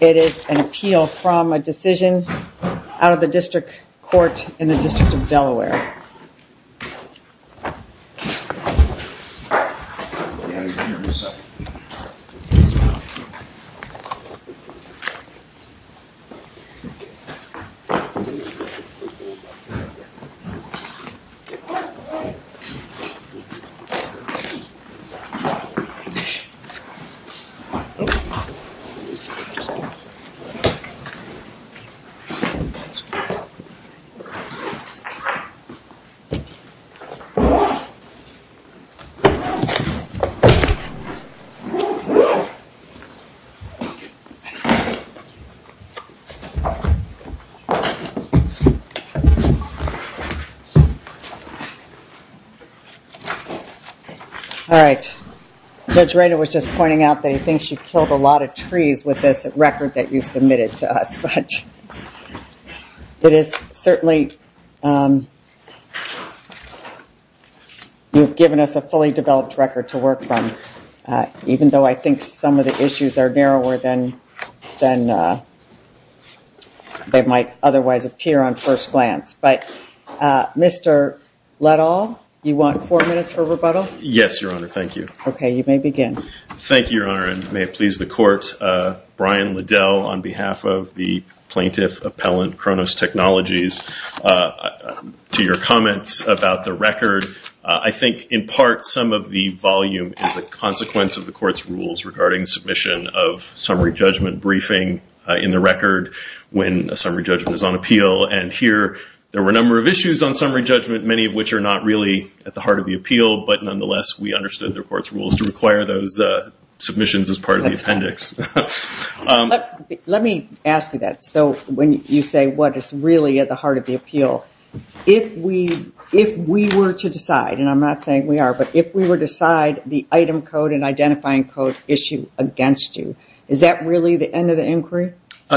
It is an appeal from a decision out of the District Court in the District of Delaware. All right, Judge Rader was just pointing out that he thinks you can't do that. You killed a lot of trees with this record that you submitted to us. But it is certainly, you've given us a fully developed record to work from, even though I think some of the issues are narrower than they might otherwise appear on first glance. But, Mr. Letall, you want four minutes for rebuttal? Yes, Your Honor, thank you. Okay, you may begin. Thank you, Your Honor, and may it please the Court, Brian Letall on behalf of the plaintiff appellant, Cronos Technologies, to your comments about the record. I think, in part, some of the volume is a consequence of the Court's rules regarding submission of summary judgment briefing in the record when a summary judgment is on appeal. And here, there were a number of issues on summary judgment, many of which are not really at the heart of the appeal. But nonetheless, we understood the Court's rules to require those submissions as part of the appendix. Let me ask you that, so when you say what is really at the heart of the appeal, if we were to decide, and I'm not saying we are, but if we were to decide the item code and identifying code issue against you, is that really the end of the inquiry?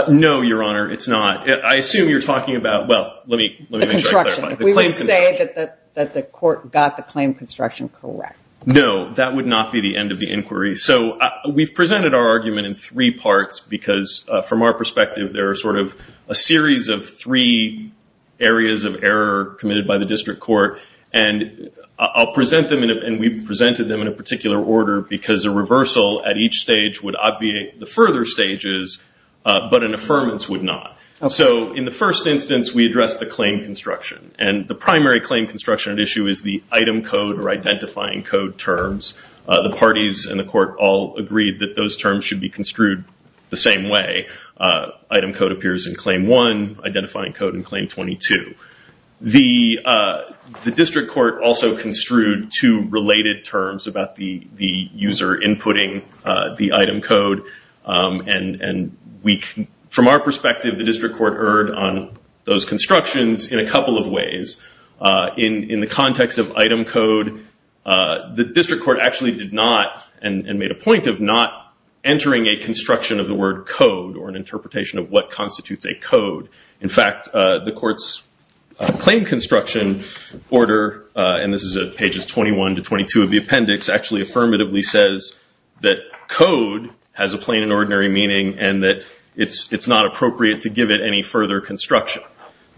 No, Your Honor, it's not. I assume you're talking about, well, let me make sure I clarify. The construction. Is the construction correct? No, that would not be the end of the inquiry. So we've presented our argument in three parts because, from our perspective, there are sort of a series of three areas of error committed by the District Court. And I'll present them, and we've presented them in a particular order because a reversal at each stage would obviate the further stages, but an affirmance would not. So in the first instance, we addressed the claim construction. And the primary claim construction at issue is the item code or identifying code terms. The parties in the court all agreed that those terms should be construed the same way. Item code appears in Claim 1, identifying code in Claim 22. The District Court also construed two related terms about the user inputting the item code, and from our perspective, the District Court erred on those constructions in a couple of ways. In the context of item code, the District Court actually did not, and made a point of not entering a construction of the word code or an interpretation of what constitutes a code. In fact, the court's claim construction order, and this is pages 21 to 22 of the appendix, actually affirmatively says that code has a plain and ordinary meaning and that it's not appropriate to give it any further construction.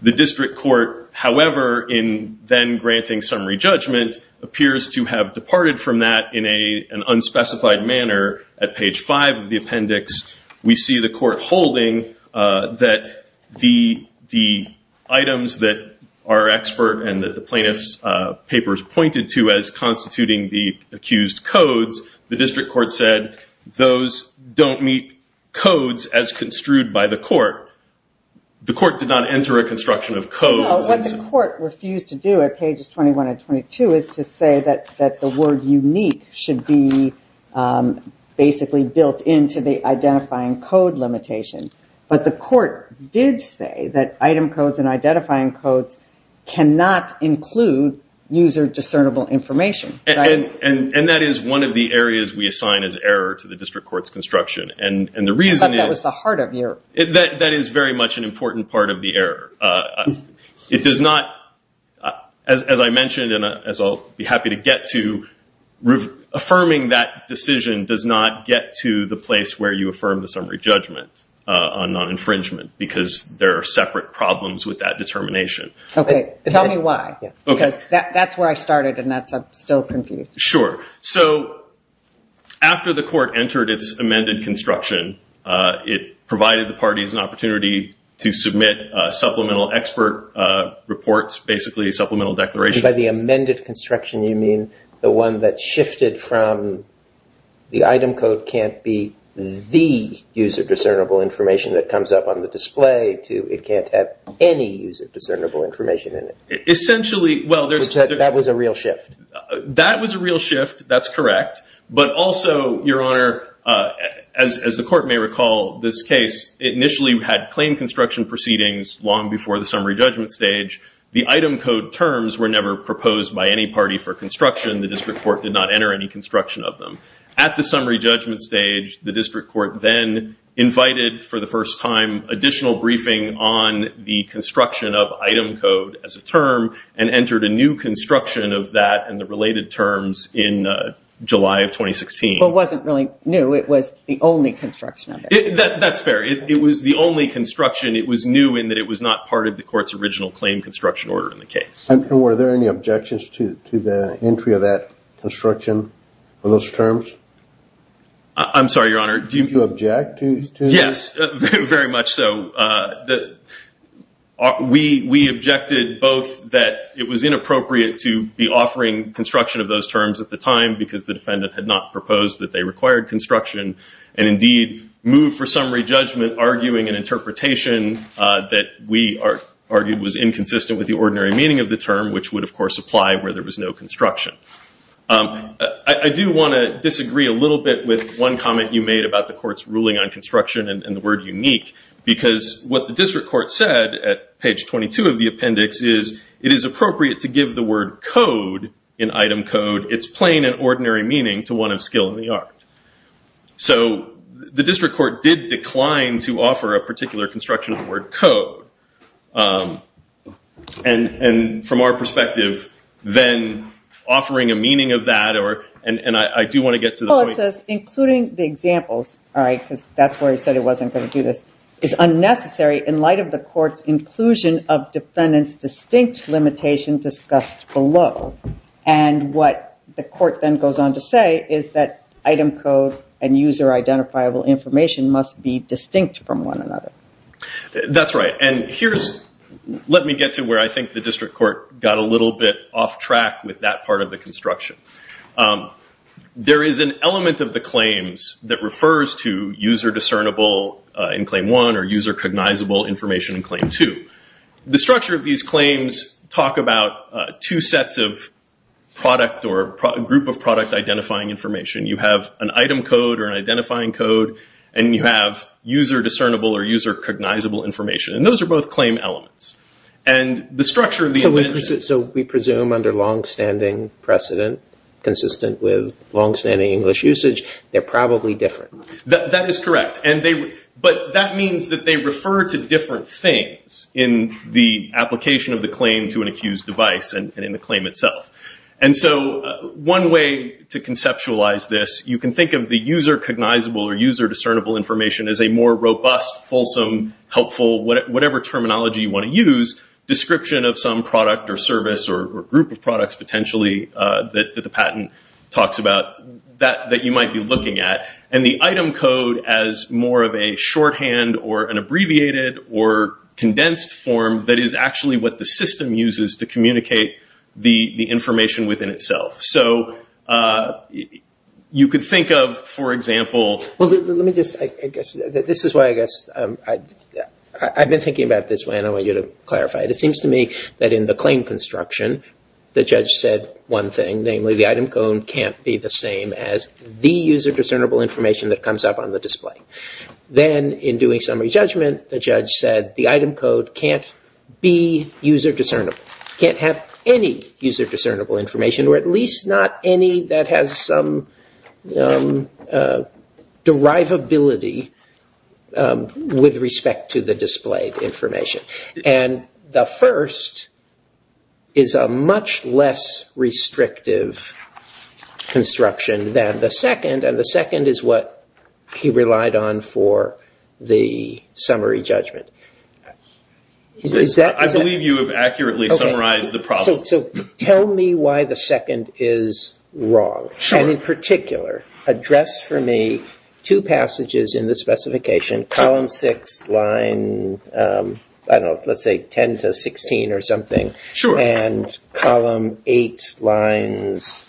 The District Court, however, in then granting summary judgment, appears to have departed from that in an unspecified manner at page 5 of the appendix. We see the court holding that the items that our expert and that the plaintiff's papers pointed to as constituting the accused codes, the District Court said those don't meet codes as construed by the court. The court did not enter a construction of codes. No, what the court refused to do at pages 21 and 22 is to say that the word unique should be basically built into the identifying code limitation, but the court did say that item codes and identifying codes cannot include user discernible information. That is one of the areas we assign as error to the District Court's construction. The reason is that is very much an important part of the error. It does not, as I mentioned and as I'll be happy to get to, affirming that decision does not get to the place where you affirm the summary judgment on non-infringement because there are separate problems with that determination. Okay. Tell me why because that's where I started and I'm still confused. Sure. Sure. So after the court entered its amended construction, it provided the parties an opportunity to submit supplemental expert reports, basically supplemental declarations. By the amended construction, you mean the one that shifted from the item code can't be the user discernible information that comes up on the display to it can't have any user discernible information in it. Essentially, well, there's- That was a real shift. That was a real shift. That's correct. But also, Your Honor, as the court may recall this case, it initially had plain construction proceedings long before the summary judgment stage. The item code terms were never proposed by any party for construction. The District Court did not enter any construction of them. At the summary judgment stage, the District Court then invited for the first time additional briefing on the construction of item code as a term and entered a new construction of that and the related terms in July of 2016. But it wasn't really new. It was the only construction of it. That's fair. It was the only construction. It was new in that it was not part of the court's original claim construction order in the case. And were there any objections to the entry of that construction of those terms? I'm sorry, Your Honor. Do you object to this? Yes, very much so. We objected both that it was inappropriate to be offering construction of those terms at the time because the defendant had not proposed that they required construction and indeed moved for summary judgment arguing an interpretation that we argued was inconsistent with the ordinary meaning of the term, which would, of course, apply where there was no construction. I do want to disagree a little bit with one comment you made about the court's ruling on construction and the word unique because what the district court said at page 22 of the appendix is, it is appropriate to give the word code, an item code, its plain and ordinary meaning to one of skill in the art. The district court did decline to offer a particular construction of the word code. From our perspective, then offering a meaning of that, and I do want to get to the point The court says including the examples, all right, because that's where he said he wasn't going to do this, is unnecessary in light of the court's inclusion of defendant's distinct limitation discussed below. What the court then goes on to say is that item code and user identifiable information must be distinct from one another. That's right. Let me get to where I think the district court got a little bit off track with that part of the construction. There is an element of the claims that refers to user discernible in claim one or user cognizable information in claim two. The structure of these claims talk about two sets of product or group of product identifying information. You have an item code or an identifying code and you have user discernible or user cognizable information. Those are both claim elements. We presume under longstanding precedent, consistent with longstanding English usage, they're probably different. That is correct, but that means that they refer to different things in the application of the claim to an accused device and in the claim itself. One way to conceptualize this, you can think of the user cognizable or user discernible information as a more robust, fulsome, helpful, whatever terminology you want to use, description of some product or service or group of products potentially that the patent talks about that you might be looking at. The item code as more of a shorthand or an abbreviated or condensed form that is actually what the system uses to communicate the information within itself. So you could think of, for example... Well, let me just, I guess, this is why I guess, I've been thinking about this way and I want you to clarify it. It seems to me that in the claim construction, the judge said one thing, namely the item code can't be the same as the user discernible information that comes up on the display. Then in doing summary judgment, the judge said the item code can't be user discernible, can't have any user discernible information, or at least not any that has some derivability with respect to the displayed information. And the first is a much less restrictive construction than the second, and the second is what he relied on for the summary judgment. I believe you have accurately summarized the problem. So tell me why the second is wrong, and in particular, address for me two passages in the specification, column six, line, I don't know, let's say 10 to 16 or something, and column eight, lines,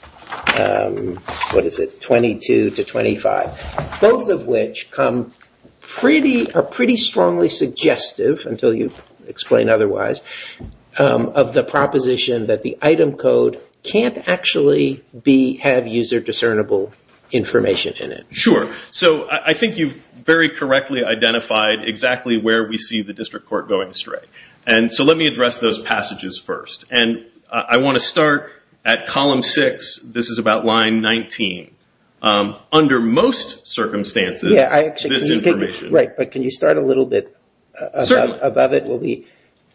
what is it, 22 to 25, both of which are pretty strongly suggestive, until you explain otherwise, of the proposition that the item code can't actually have user discernible information in it. Sure. So I think you've very correctly identified exactly where we see the district court going astray. So let me address those passages first, and I want to start at column six, this is about line 19. Under most circumstances, this information... Right, but can you start a little bit above it?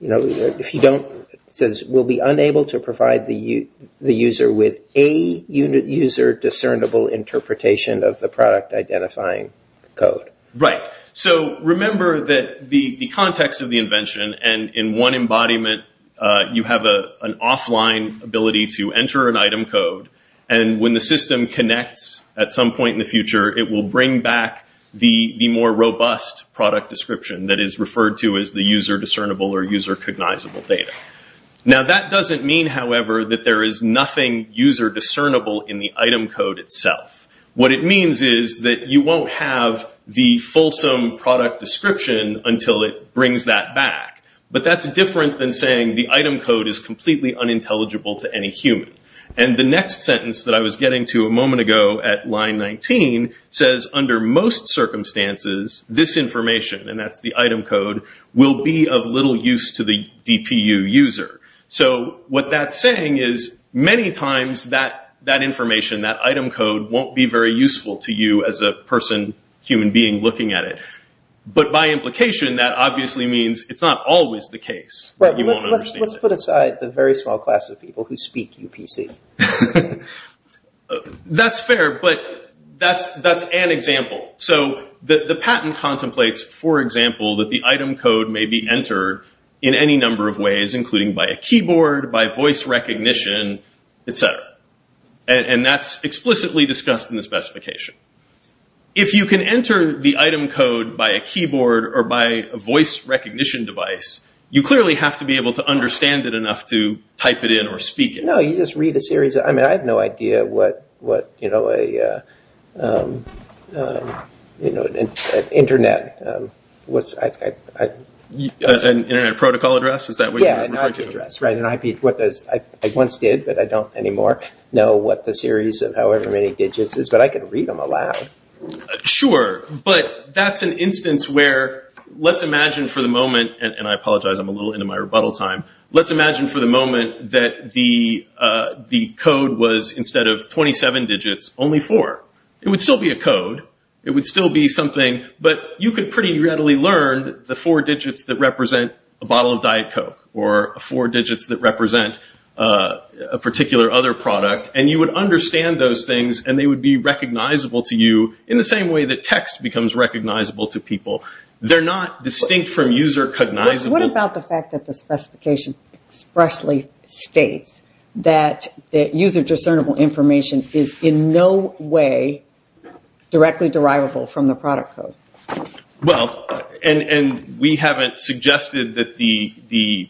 If you don't, it says, we'll be unable to provide the user with a user discernible interpretation of the product identifying code. Right. So remember that the context of the invention, and in one embodiment, you have an offline ability to enter an item code, and when the system connects at some point in the future, it will bring back the more robust product description that is referred to as the user discernible or user cognizable data. Now that doesn't mean, however, that there is nothing user discernible in the item code itself. What it means is that you won't have the fulsome product description until it brings that back. But that's different than saying the item code is completely unintelligible to any human. And the next sentence that I was getting to a moment ago at line 19 says, under most circumstances, this information, and that's the item code, will be of little use to the DPU user. So what that's saying is, many times, that information, that item code, won't be very useful to you as a person, human being, looking at it. But by implication, that obviously means it's not always the case that you won't understand it. Let's put aside the very small class of people who speak UPC. That's fair, but that's an example. So the patent contemplates, for example, that the item code may be entered in any number of ways, including by a keyboard, by voice recognition, et cetera. And that's explicitly discussed in the specification. If you can enter the item code by a keyboard or by a voice recognition device, you clearly have to be able to understand it enough to type it in or speak it. No, you just read a series of, I mean, I have no idea what, you know, an internet, what's the address? An internet protocol address? Is that what you're referring to? Yeah, an IP address, right. An IP, what those, I once did, but I don't anymore know what the series of however many digits is, but I can read them aloud. Sure, but that's an instance where, let's imagine for the moment, and I apologize, I'm a little into my rebuttal time. Let's imagine for the moment that the code was, instead of 27 digits, only four. It would still be a code. It would still be something, but you could pretty readily learn the four digits that represent a bottle of Diet Coke, or four digits that represent a particular other product, and you would understand those things, and they would be recognizable to you in the same way that text becomes recognizable to people. They're not distinct from user cognizable. What about the fact that the specification expressly states that user discernible information is in no way directly derivable from the product code? Well, and we haven't suggested that the,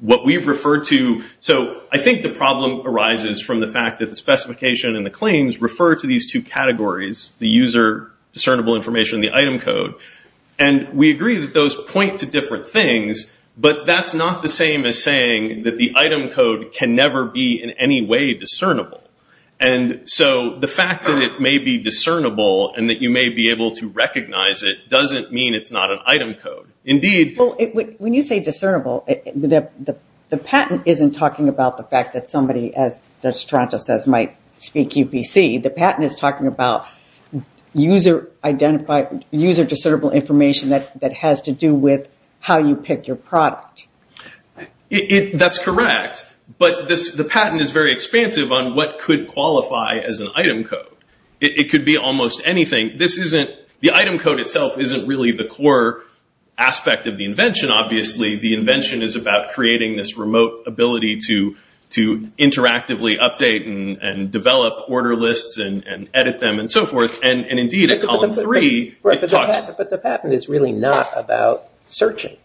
what we've referred to, so I think the problem arises from the fact that the specification and the claims refer to these two categories, the user discernible information, the item code, and we agree that those point to different things, but that's not the same as saying that the item code can never be in any way discernible. The fact that it may be discernible, and that you may be able to recognize it, doesn't mean it's not an item code. Indeed- Well, when you say discernible, the patent isn't talking about the fact that somebody, as Judge Toronto says, might speak UPC. The patent is talking about user discernible information that has to do with how you pick your product. That's correct, but the patent is very expansive on what could qualify as an item code. It could be almost anything. The item code itself isn't really the core aspect of the invention, obviously. The invention is about creating this remote ability to interactively update and develop order lists and edit them and so forth, and indeed, at column three, it talks- But the patent is really not about searching.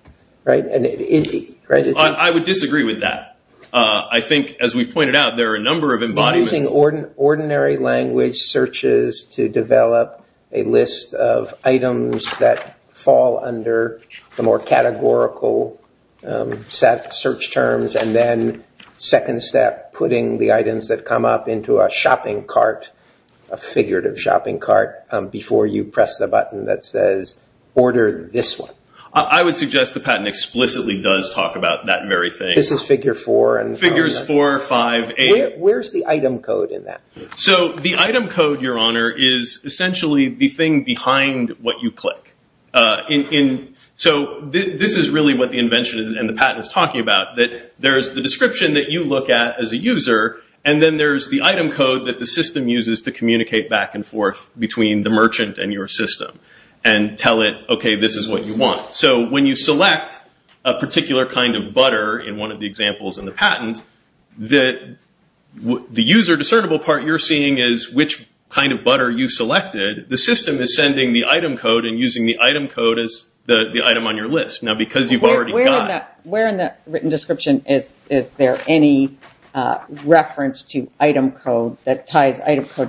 I would disagree with that. I think, as we've pointed out, there are a number of embodiments- Using ordinary language searches to develop a list of items that fall under the more categorical search terms, and then second step, putting the items that come up into a shopping cart, a figurative shopping cart, before you press the button that says, order this one. I would suggest the patent explicitly does talk about that very thing. This is figure four and- Figures four, five, eight. Where's the item code in that? The item code, Your Honor, is essentially the thing behind what you click. This is really what the invention and the patent is talking about. There's the description that you look at as a user, and then there's the item code that the system uses to communicate back and forth between the merchant and your system, and tell it, okay, this is what you want. When you select a particular kind of butter in one of the examples in the patent, the user discernible part you're seeing is which kind of butter you selected. The system is sending the item code and using the item code as the item on your list. Because you've already got- Item code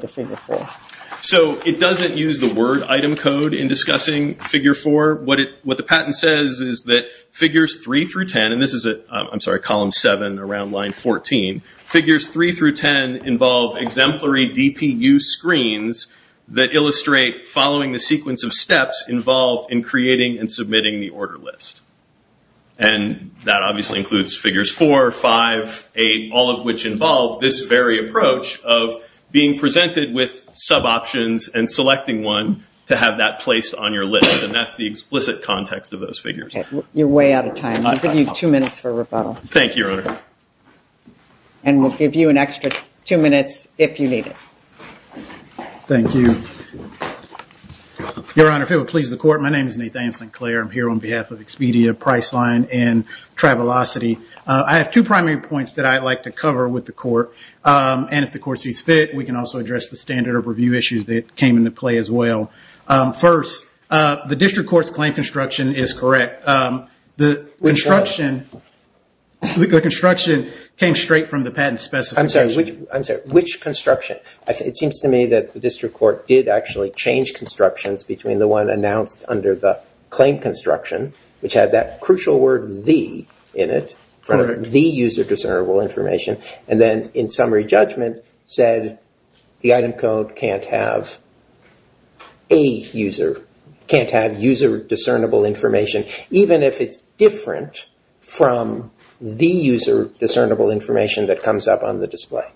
to figure four. It doesn't use the word item code in discussing figure four. What the patent says is that figures three through 10, and this is at, I'm sorry, column seven around line 14. Figures three through 10 involve exemplary DPU screens that illustrate following the sequence of steps involved in creating and submitting the order list. And that obviously includes figures four, five, eight, all of which involve this very approach of being presented with suboptions and selecting one to have that placed on your list. And that's the explicit context of those figures. You're way out of time. I'll give you two minutes for rebuttal. Thank you, Your Honor. And we'll give you an extra two minutes if you need it. Thank you. Your Honor, if it would please the court, my name is Nathan Sinclair. I'm here on behalf of Expedia, Priceline, and Tribelocity. I have two primary points that I'd like to cover with the court. And if the court sees fit, we can also address the standard of review issues that came into play as well. First, the district court's claim construction is correct. The construction came straight from the patent specification. I'm sorry. Which construction? It seems to me that the district court did actually change constructions between the one announced under the claim construction, which had that crucial word, the, in it for the user discernible information, and then in summary judgment said the item code can't have a user, can't have user discernible information, even if it's different from the user discernible information that comes up on the display.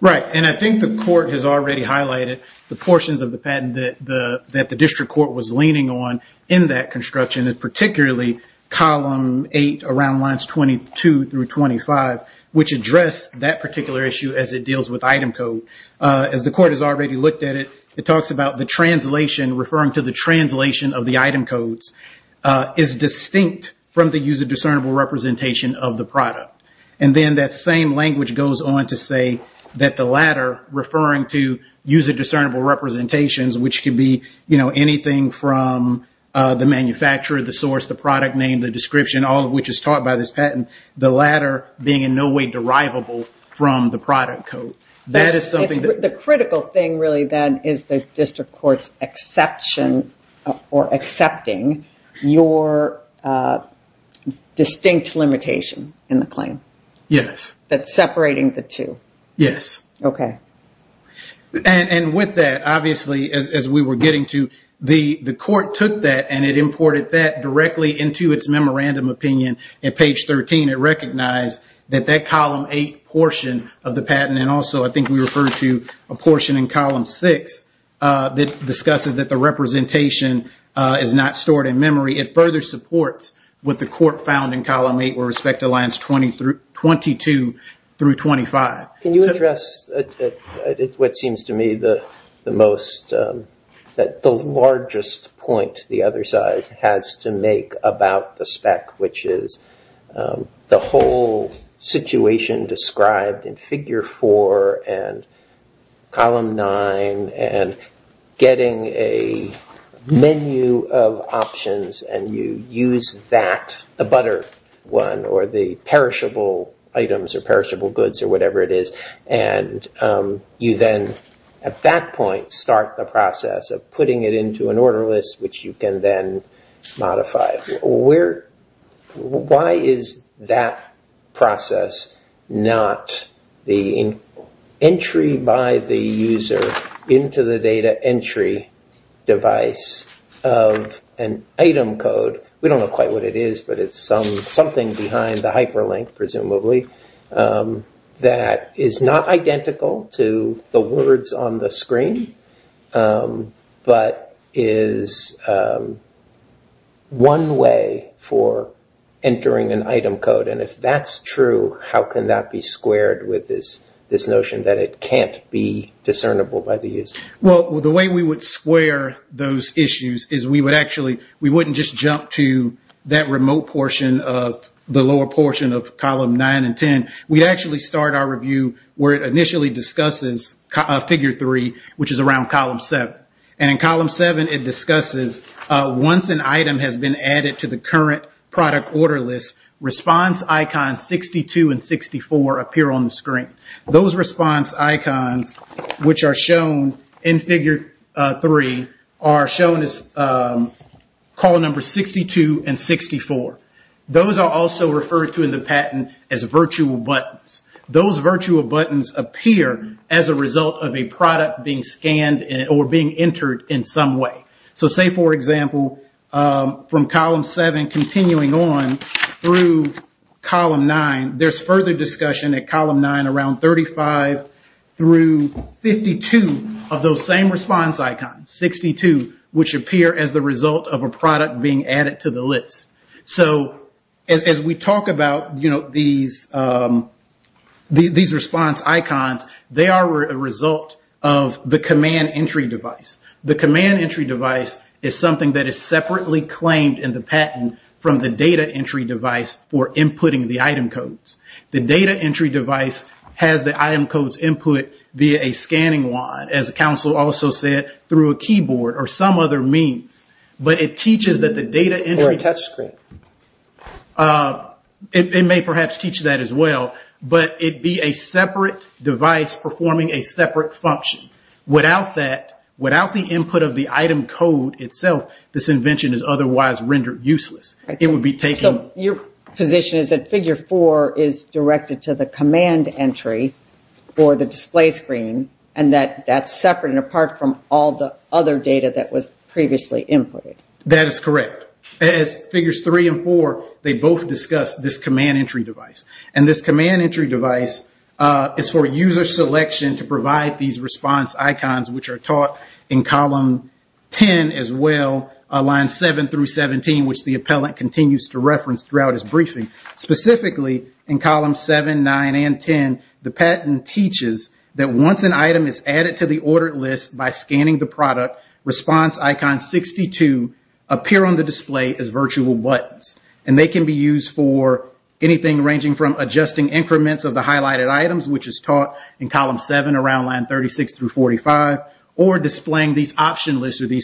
Right. And I think the court has already highlighted the portions of the patent that the district court was leaning on in that construction, particularly column eight around lines 22 through 25, which address that particular issue as it deals with item code. As the court has already looked at it, it talks about the translation, referring to the translation of the item codes, is distinct from the user discernible representation of the product. And then that same language goes on to say that the latter, referring to user discernible representations, which could be, you know, anything from the manufacturer, the source, the product name, the description, all of which is taught by this patent, the latter being in no way derivable from the product code. That is something that... The critical thing really then is the district court's exception or accepting your distinct limitation in the claim. Yes. That's separating the two. Yes. Okay. And with that, obviously, as we were getting to, the court took that and it imported that directly into its memorandum opinion at page 13. It recognized that that column eight portion of the patent, and also I think we referred to a portion in column six that discusses that the representation is not stored in memory. It further supports what the court found in column eight with respect to lines 22 through 25. Can you address what seems to me the largest point the other side has to make about the spec, which is the whole situation described in figure four and column nine and getting a menu of options and you use that, the butter one or the perishable items or perishable whatever it is, and you then at that point start the process of putting it into an order list, which you can then modify. Why is that process not the entry by the user into the data entry device of an item code? We don't know quite what it is, but it's something behind the hyperlink, presumably, that is not identical to the words on the screen, but is one way for entering an item code. And if that's true, how can that be squared with this notion that it can't be discernible by the user? Well, the way we would square those issues is we wouldn't just jump to that remote portion of the lower portion of column nine and ten. We actually start our review where it initially discusses figure three, which is around column seven. And in column seven, it discusses once an item has been added to the current product order list, response icons 62 and 64 appear on the screen. Those response icons, which are shown in figure three, are shown as column number 62 and 64. Those are also referred to in the patent as virtual buttons. Those virtual buttons appear as a result of a product being scanned or being entered in some way. So say, for example, from column seven continuing on through column nine, there's further discussion at column nine around 35 through 52 of those same response icons, 62, which appear as the result of a product being added to the list. So as we talk about these response icons, they are a result of the command entry device. The command entry device is something that is separately claimed in the patent from the data entry device for inputting the item codes. The data entry device has the item codes input via a scanning wand, as the counsel also said, through a keyboard or some other means. But it teaches that the data entry... Or a touch screen. It may perhaps teach that as well. But it be a separate device performing a separate function. Without that, without the input of the item code itself, this invention is otherwise rendered useless. So your position is that figure four is directed to the command entry, or the display screen, and that that's separate and apart from all the other data that was previously inputted. That is correct. As figures three and four, they both discuss this command entry device. And this command entry device is for user selection to provide these response icons, which are taught in column 10 as well, lines 7 through 17, which the appellant continues to reference throughout his briefing. Specifically, in column 7, 9, and 10, the patent teaches that once an item is added to the ordered list by scanning the product, response icons 62 appear on the display as virtual buttons. And they can be used for anything ranging from adjusting increments of the highlighted items, which is taught in these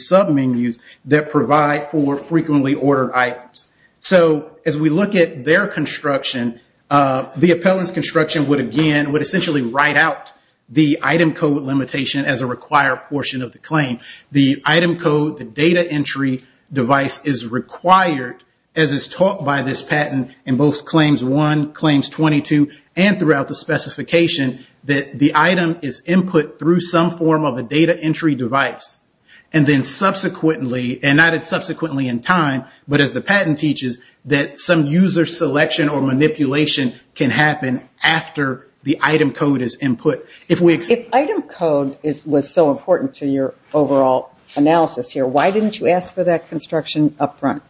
submenus that provide for frequently ordered items. So as we look at their construction, the appellant's construction would again, would essentially write out the item code limitation as a required portion of the claim. The item code, the data entry device is required, as is taught by this patent in both claims one, claims 22, and throughout the specification, that the item is input through some form of a data entry device. And then subsequently, and not subsequently in time, but as the patent teaches, that some user selection or manipulation can happen after the item code is input. If item code was so important to your overall analysis here, why didn't you ask for that construction up front?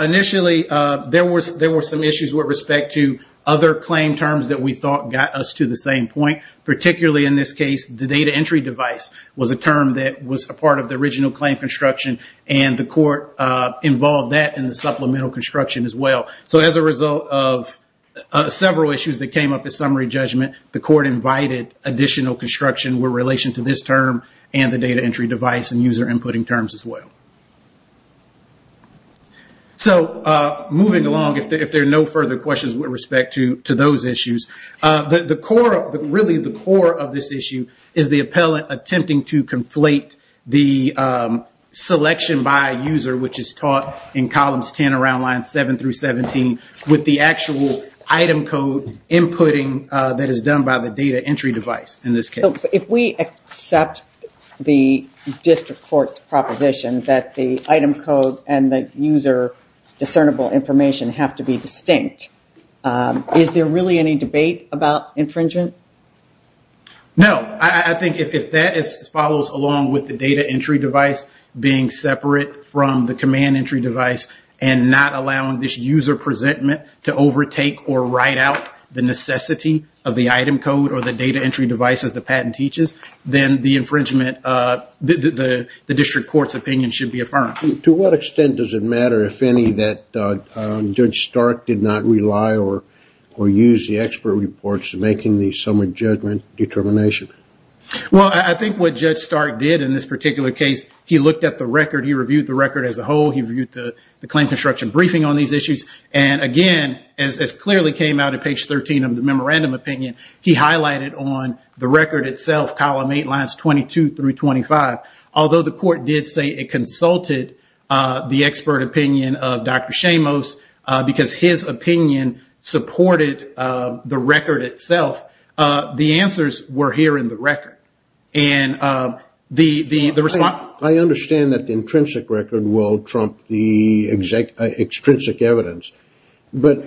Initially, there were some issues with respect to other claim terms that we thought got us to the same point. Particularly in this case, the data entry device was a term that was a part of the original claim construction. And the court involved that in the supplemental construction as well. So as a result of several issues that came up in summary judgment, the court invited additional construction with relation to this term and the data entry device and user inputting terms as well. So moving along, if there are no further questions with respect to those issues. Really the core of this issue is the appellate attempting to conflate the selection by user, which is taught in columns 10 around lines 7 through 17, with the actual item code inputting that is done by the data entry device in this case. If we accept the district court's proposition that the item code and the user discernible information have to be distinct, is there really any debate about infringement? No. I think if that follows along with the data entry device being separate from the command entry device and not allowing this user presentment to overtake or write out the necessity of the item code or the data entry device as the patent teaches, then the infringement, the district court's opinion should be affirmed. To what extent does it matter, if any, that Judge Stark did not rely or use the expert reports in making the summary judgment determination? Well, I think what Judge Stark did in this particular case, he looked at the record. He reviewed the record as a whole. He reviewed the claim construction briefing on these issues. And again, as clearly came out at page 13 of the memorandum opinion, he highlighted on the record itself, column 8, lines 22 through 25, although the court did say it consulted the expert opinion of Dr. Shamos, because his opinion supported the record itself, the answers were here in the record. I understand that the intrinsic record will trump the extrinsic evidence, but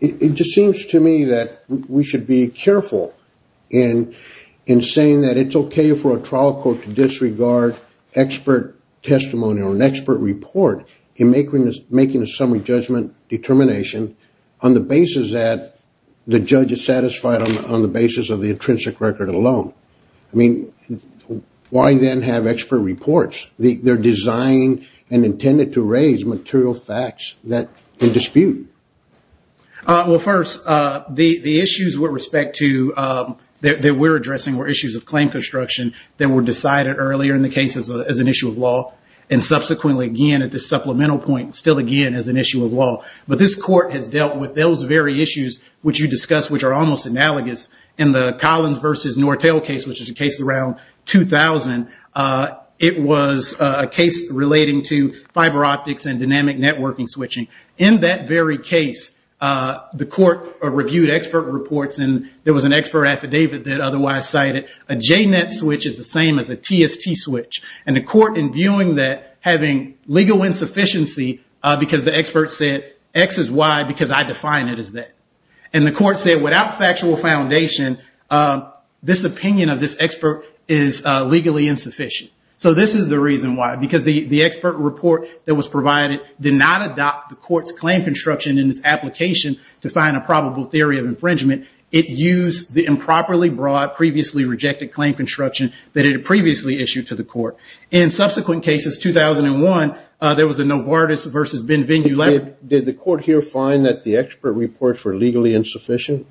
it just seems to me that we should be careful in saying that it's okay for a trial court to disregard expert testimony or an expert report in making a summary judgment determination on the basis that the judge is satisfied on the basis of the intrinsic record alone. I mean, why then have expert reports? They're designed and intended to raise material facts that can dispute. Well, first, the issues that we're addressing were issues of claim construction that were decided earlier in the case as an issue of law. And subsequently, again, at this supplemental point, still again as an issue of law. But this court has dealt with those very issues which you discussed, which are almost analogous. In the Collins versus Nortel case, which is a case around 2000, it was a case relating to fiber optics and dynamic networking switching. In that very case, the court reviewed expert reports, and there was an expert affidavit that otherwise cited a JNET switch is the same as a TST switch. And the court, in viewing that, having legal insufficiency because the expert said X is Y because I define it as that. And the court said without factual foundation, this opinion of this expert is legally insufficient. So this is the reason why, because the expert report that was provided did not adopt the court's claim construction in this application to find a probable theory of infringement. It used the improperly brought, previously rejected claim construction that it had previously issued to the court. In subsequent cases, 2001, there was a Novartis versus Benvenu letter. Did the court here find that the expert reports were legally insufficient?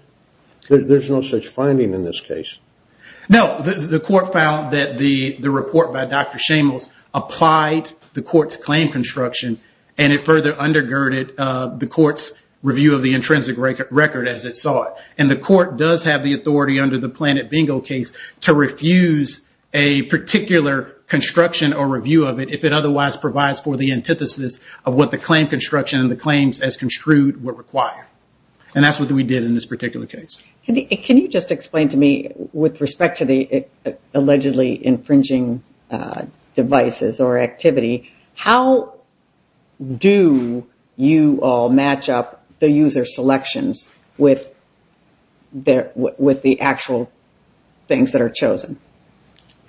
There's no such finding in this case. No. The court found that the report by Dr. Shamos applied the court's claim construction, and it further undergirded the court's review of the intrinsic record as it saw it. And the court does have the authority under the Planet Bingo case to refuse a particular construction or review of it if it otherwise provides for the antithesis of what the claim construction and the claims as construed would require. And that's what we did in this particular case. Can you just explain to me, with respect to the allegedly infringing devices or activity, how do you all match up the user selections with the actual things that are chosen?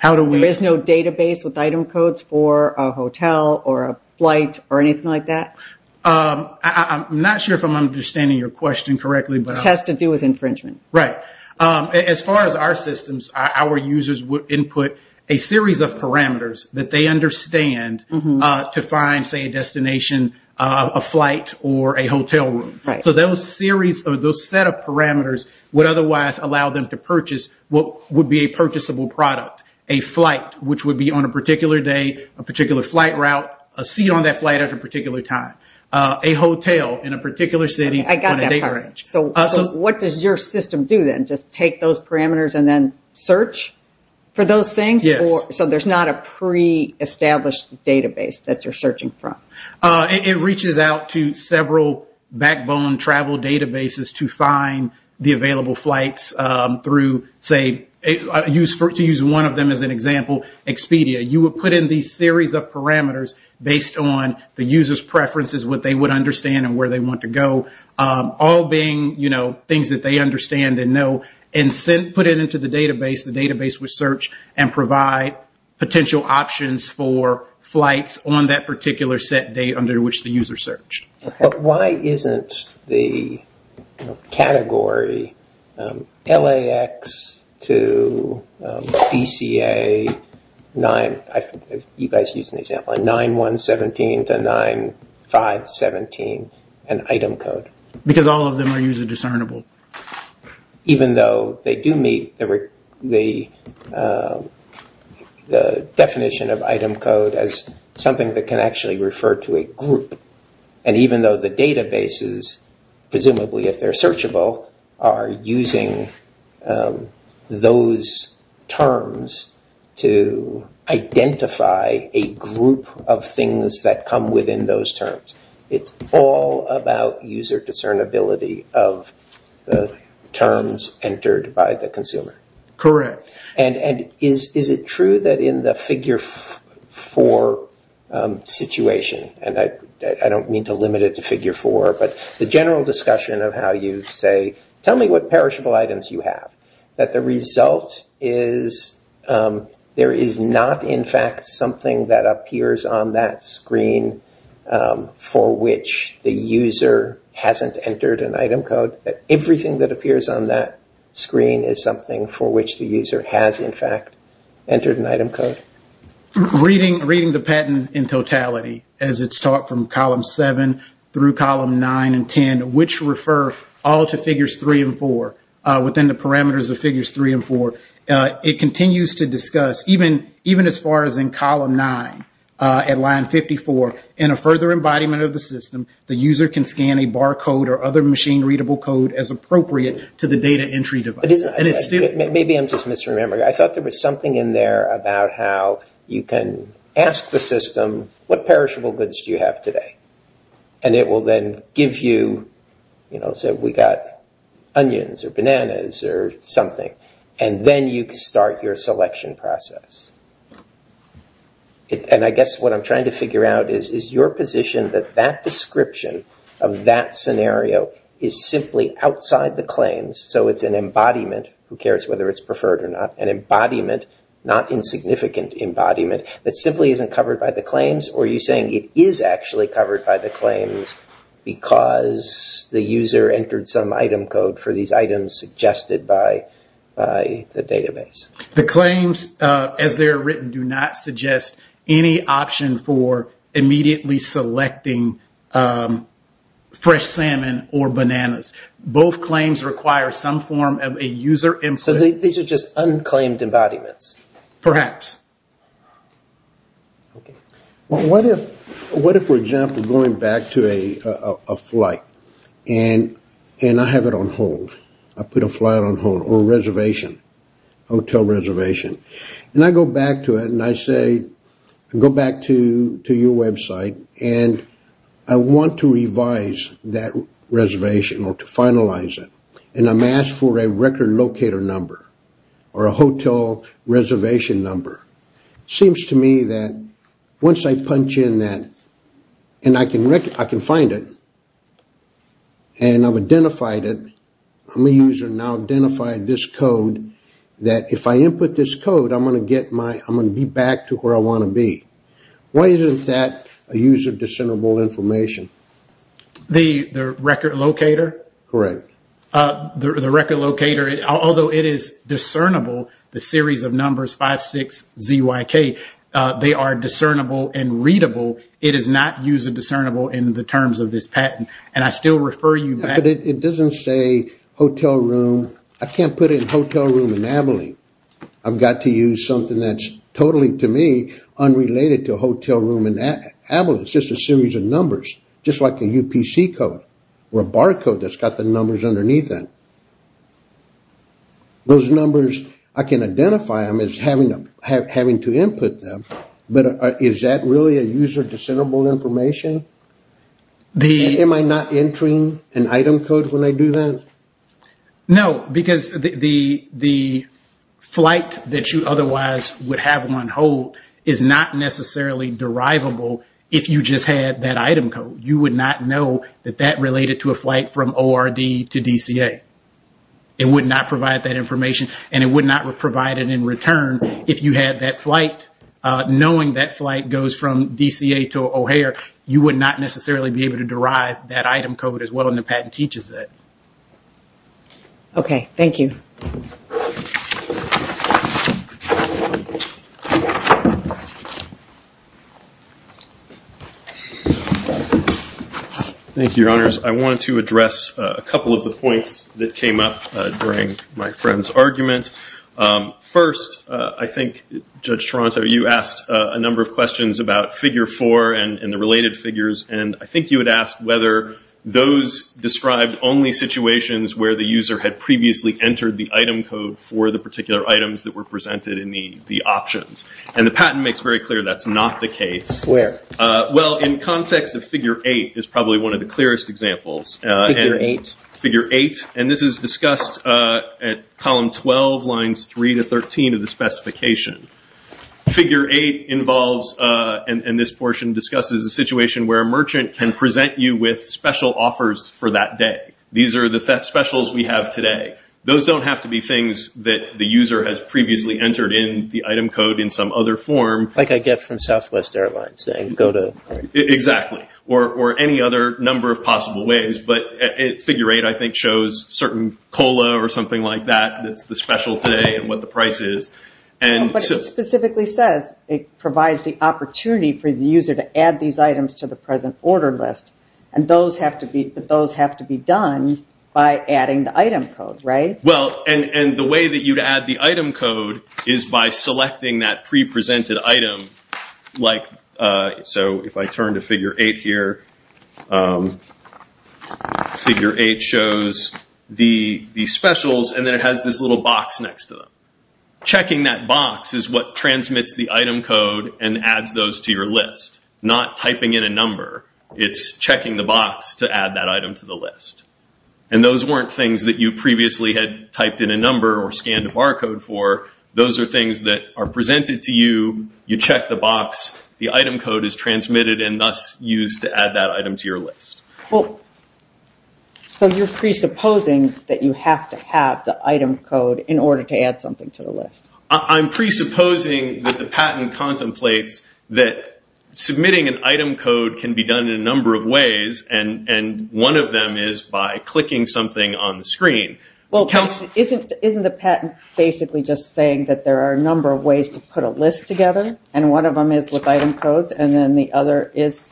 There is no database with item codes for a hotel or a flight or anything like that? I'm not sure if I'm understanding your question correctly. It has to do with infringement. Right. As far as our systems, our users would input a series of parameters that they understand to find, say, a destination, a flight or a hotel room. So those set of parameters would otherwise allow them to purchase what would be a purchasable product, a flight which would be on a particular day, a particular flight route, a seat on that flight at a particular time, a hotel in a particular city on a date range. So what does your system do then? Just take those parameters and then search for those things? Yes. So there's not a pre-established database that you're searching from? It reaches out to several backbone travel databases to find the available flights through, say, to use one of them as an example, Expedia. You would put in these series of parameters based on the user's preferences, what they would understand and where they want to go, all being things that they understand and know, and put it into the database. The database would search and provide potential options for flights on that particular set date under which the user searched. But why isn't the category LAX to BCA, you guys used an example, 9-1-17 to 9-5-17 an item code? Because all of them are user discernible. Even though they do meet the definition of item code as something that can actually refer to a group. And even though the databases, presumably if they're searchable, are using those terms to identify a group of things that come within those terms. It's all about user discernibility of the terms entered by the consumer. Correct. And is it true that in the figure 4 situation, and I don't mean to limit it to figure 4, but the general discussion of how you say, tell me what perishable items you have, that the result is there is not in fact something that appears on that screen for which the user hasn't entered an item code. Everything that appears on that screen is something for which the user has in fact entered an item code. Reading the patent in totality, as it's taught from column 7 through column 9 and 10, which refer all to figures 3 and 4 within the parameters of figures 3 and 4, it continues to discuss, even as far as in column 9 at line 54, in a further embodiment of the system, the user can scan a bar code or other machine readable code as appropriate to the data entry device. Maybe I'm just misremembering. I thought there was something in there about how you can ask the system, what perishable goods do you have today? And it will then give you, say we've got onions or bananas or something. And then you start your selection process. And I guess what I'm trying to figure out is, is your position that that description of that scenario is simply outside the claims, so it's an embodiment, who cares whether it's preferred or not, an embodiment, not insignificant embodiment, that simply isn't covered by the claims? Or are you saying it is actually covered by the claims because the user entered some item code for these items suggested by the database? The claims, as they are written, do not suggest any option for immediately selecting fresh salmon or bananas. Both claims require some form of a user input. So these are just unclaimed embodiments? Perhaps. Okay. What if, for example, going back to a flight and I have it on hold? I put a flight on hold or a reservation, hotel reservation. And I go back to it and I say, go back to your website, and I want to revise that reservation or to finalize it. And I'm asked for a record locator number or a hotel reservation number. It seems to me that once I punch in that, and I can find it, and I've identified it, I'm a user now, identify this code, that if I input this code, I'm going to get my, I'm going to be back to where I want to be. Why isn't that a user-dissentable information? The record locator? Correct. The record locator, although it is discernible, the series of numbers, 5, 6, Z, Y, K, they are discernible and readable. It is not user discernible in the terms of this patent. And I still refer you back. It doesn't say hotel room. I can't put in hotel room in Abilene. I've got to use something that's totally, to me, unrelated to hotel room in Abilene. It's just a series of numbers, just like a UPC code or a bar code that's got the numbers underneath it. Those numbers, I can identify them as having to input them, but is that really a user-dissentable information? Am I not entering an item code when I do that? No, because the flight that you otherwise would have on hold is not necessarily derivable if you just had that item code. You would not know that that related to a flight from ORD to DCA. It would not provide that information, and it would not provide it in return if you had that flight. Knowing that flight goes from DCA to O'Hare, you would not necessarily be able to derive that item code as well, and the patent teaches that. Okay, thank you. Thank you, Your Honors. I wanted to address a couple of the points that came up during my friend's argument. First, I think, Judge Toronto, you asked a number of questions about figure four and the related figures, and I think you had asked whether those described only situations where the user had previously entered the item code for the particular items that were presented in the options, and the patent makes very clear that's not the case. Where? Well, in context of figure eight is probably one of the clearest examples. Figure eight? Figure eight, and this is discussed at column 12, lines 3 to 13 of the specification. Figure eight involves, and this portion discusses, a situation where a merchant can present you with special offers for that day. These are the specials we have today. Those don't have to be things that the user has previously entered in the item code in some other form. Like I get from Southwest Airlines saying go to... Exactly, or any other number of possible ways, but figure eight, I think, shows certain cola or something like that that's the special today and what the price is. But it specifically says it provides the opportunity for the user to add these items to the present order list, and those have to be done by adding the item code, right? Well, and the way that you'd add the item code is by selecting that pre-presented item. So if I turn to figure eight here, figure eight shows the specials, and then it has this little box next to them. Checking that box is what transmits the item code and adds those to your list, not typing in a number. It's checking the box to add that item to the list. And those weren't things that you previously had typed in a number or scanned a barcode for. Those are things that are presented to you, you check the box, the item code is transmitted and thus used to add that item to your list. So you're presupposing that you have to have the item code in order to add something to the list. I'm presupposing that the patent contemplates that submitting an item code can be done in a number of ways, and one of them is by clicking something on the screen. Well, isn't the patent basically just saying that there are a number of ways to put a list together, and one of them is with item codes, and then the other is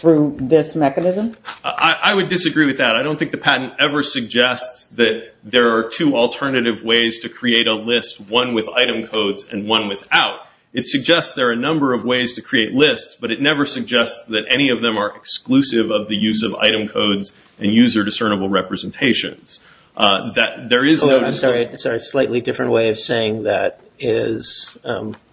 through this mechanism? I would disagree with that. I don't think the patent ever suggests that there are two alternative ways to create a list, one with item codes and one without. It suggests there are a number of ways to create lists, but it never suggests that any of them are exclusive of the use of item codes and user discernible representations. I'm sorry, it's a slightly different way of saying that, is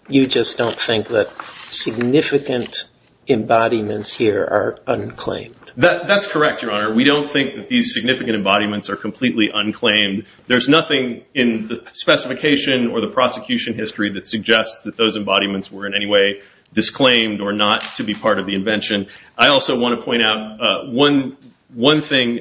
you just don't think that significant embodiments here are unclaimed. That's correct, Your Honor. We don't think that these significant embodiments are completely unclaimed. There's nothing in the specification or the prosecution history that suggests that those embodiments were in any way disclaimed or not to be part of the invention. I also want to point out one thing.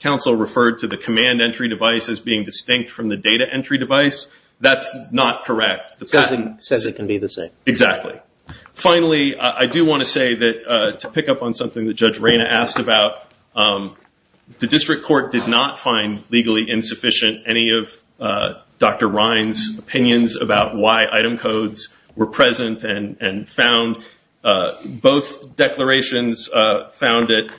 Counsel referred to the command entry device as being distinct from the data entry device. That's not correct. It says it can be the same. Exactly. Finally, I do want to say that to pick up on something that Judge Rayna asked about, the district court did not find legally insufficient any of Dr. Ryan's opinions about why item codes were present and found both declarations found at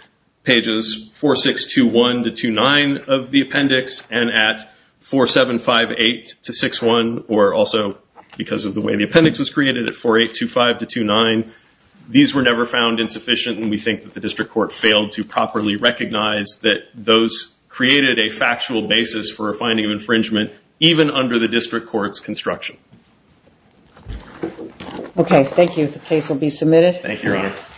pages 4621-29 of the appendix and at 4758-61, or also because of the way the appendix was created at 4825-29. These were never found insufficient, and we think that the district court failed to properly recognize that those created a factual basis for a finding of infringement, even under the district court's construction. Okay. Thank you. The case will be submitted. Thank you, Your Honor.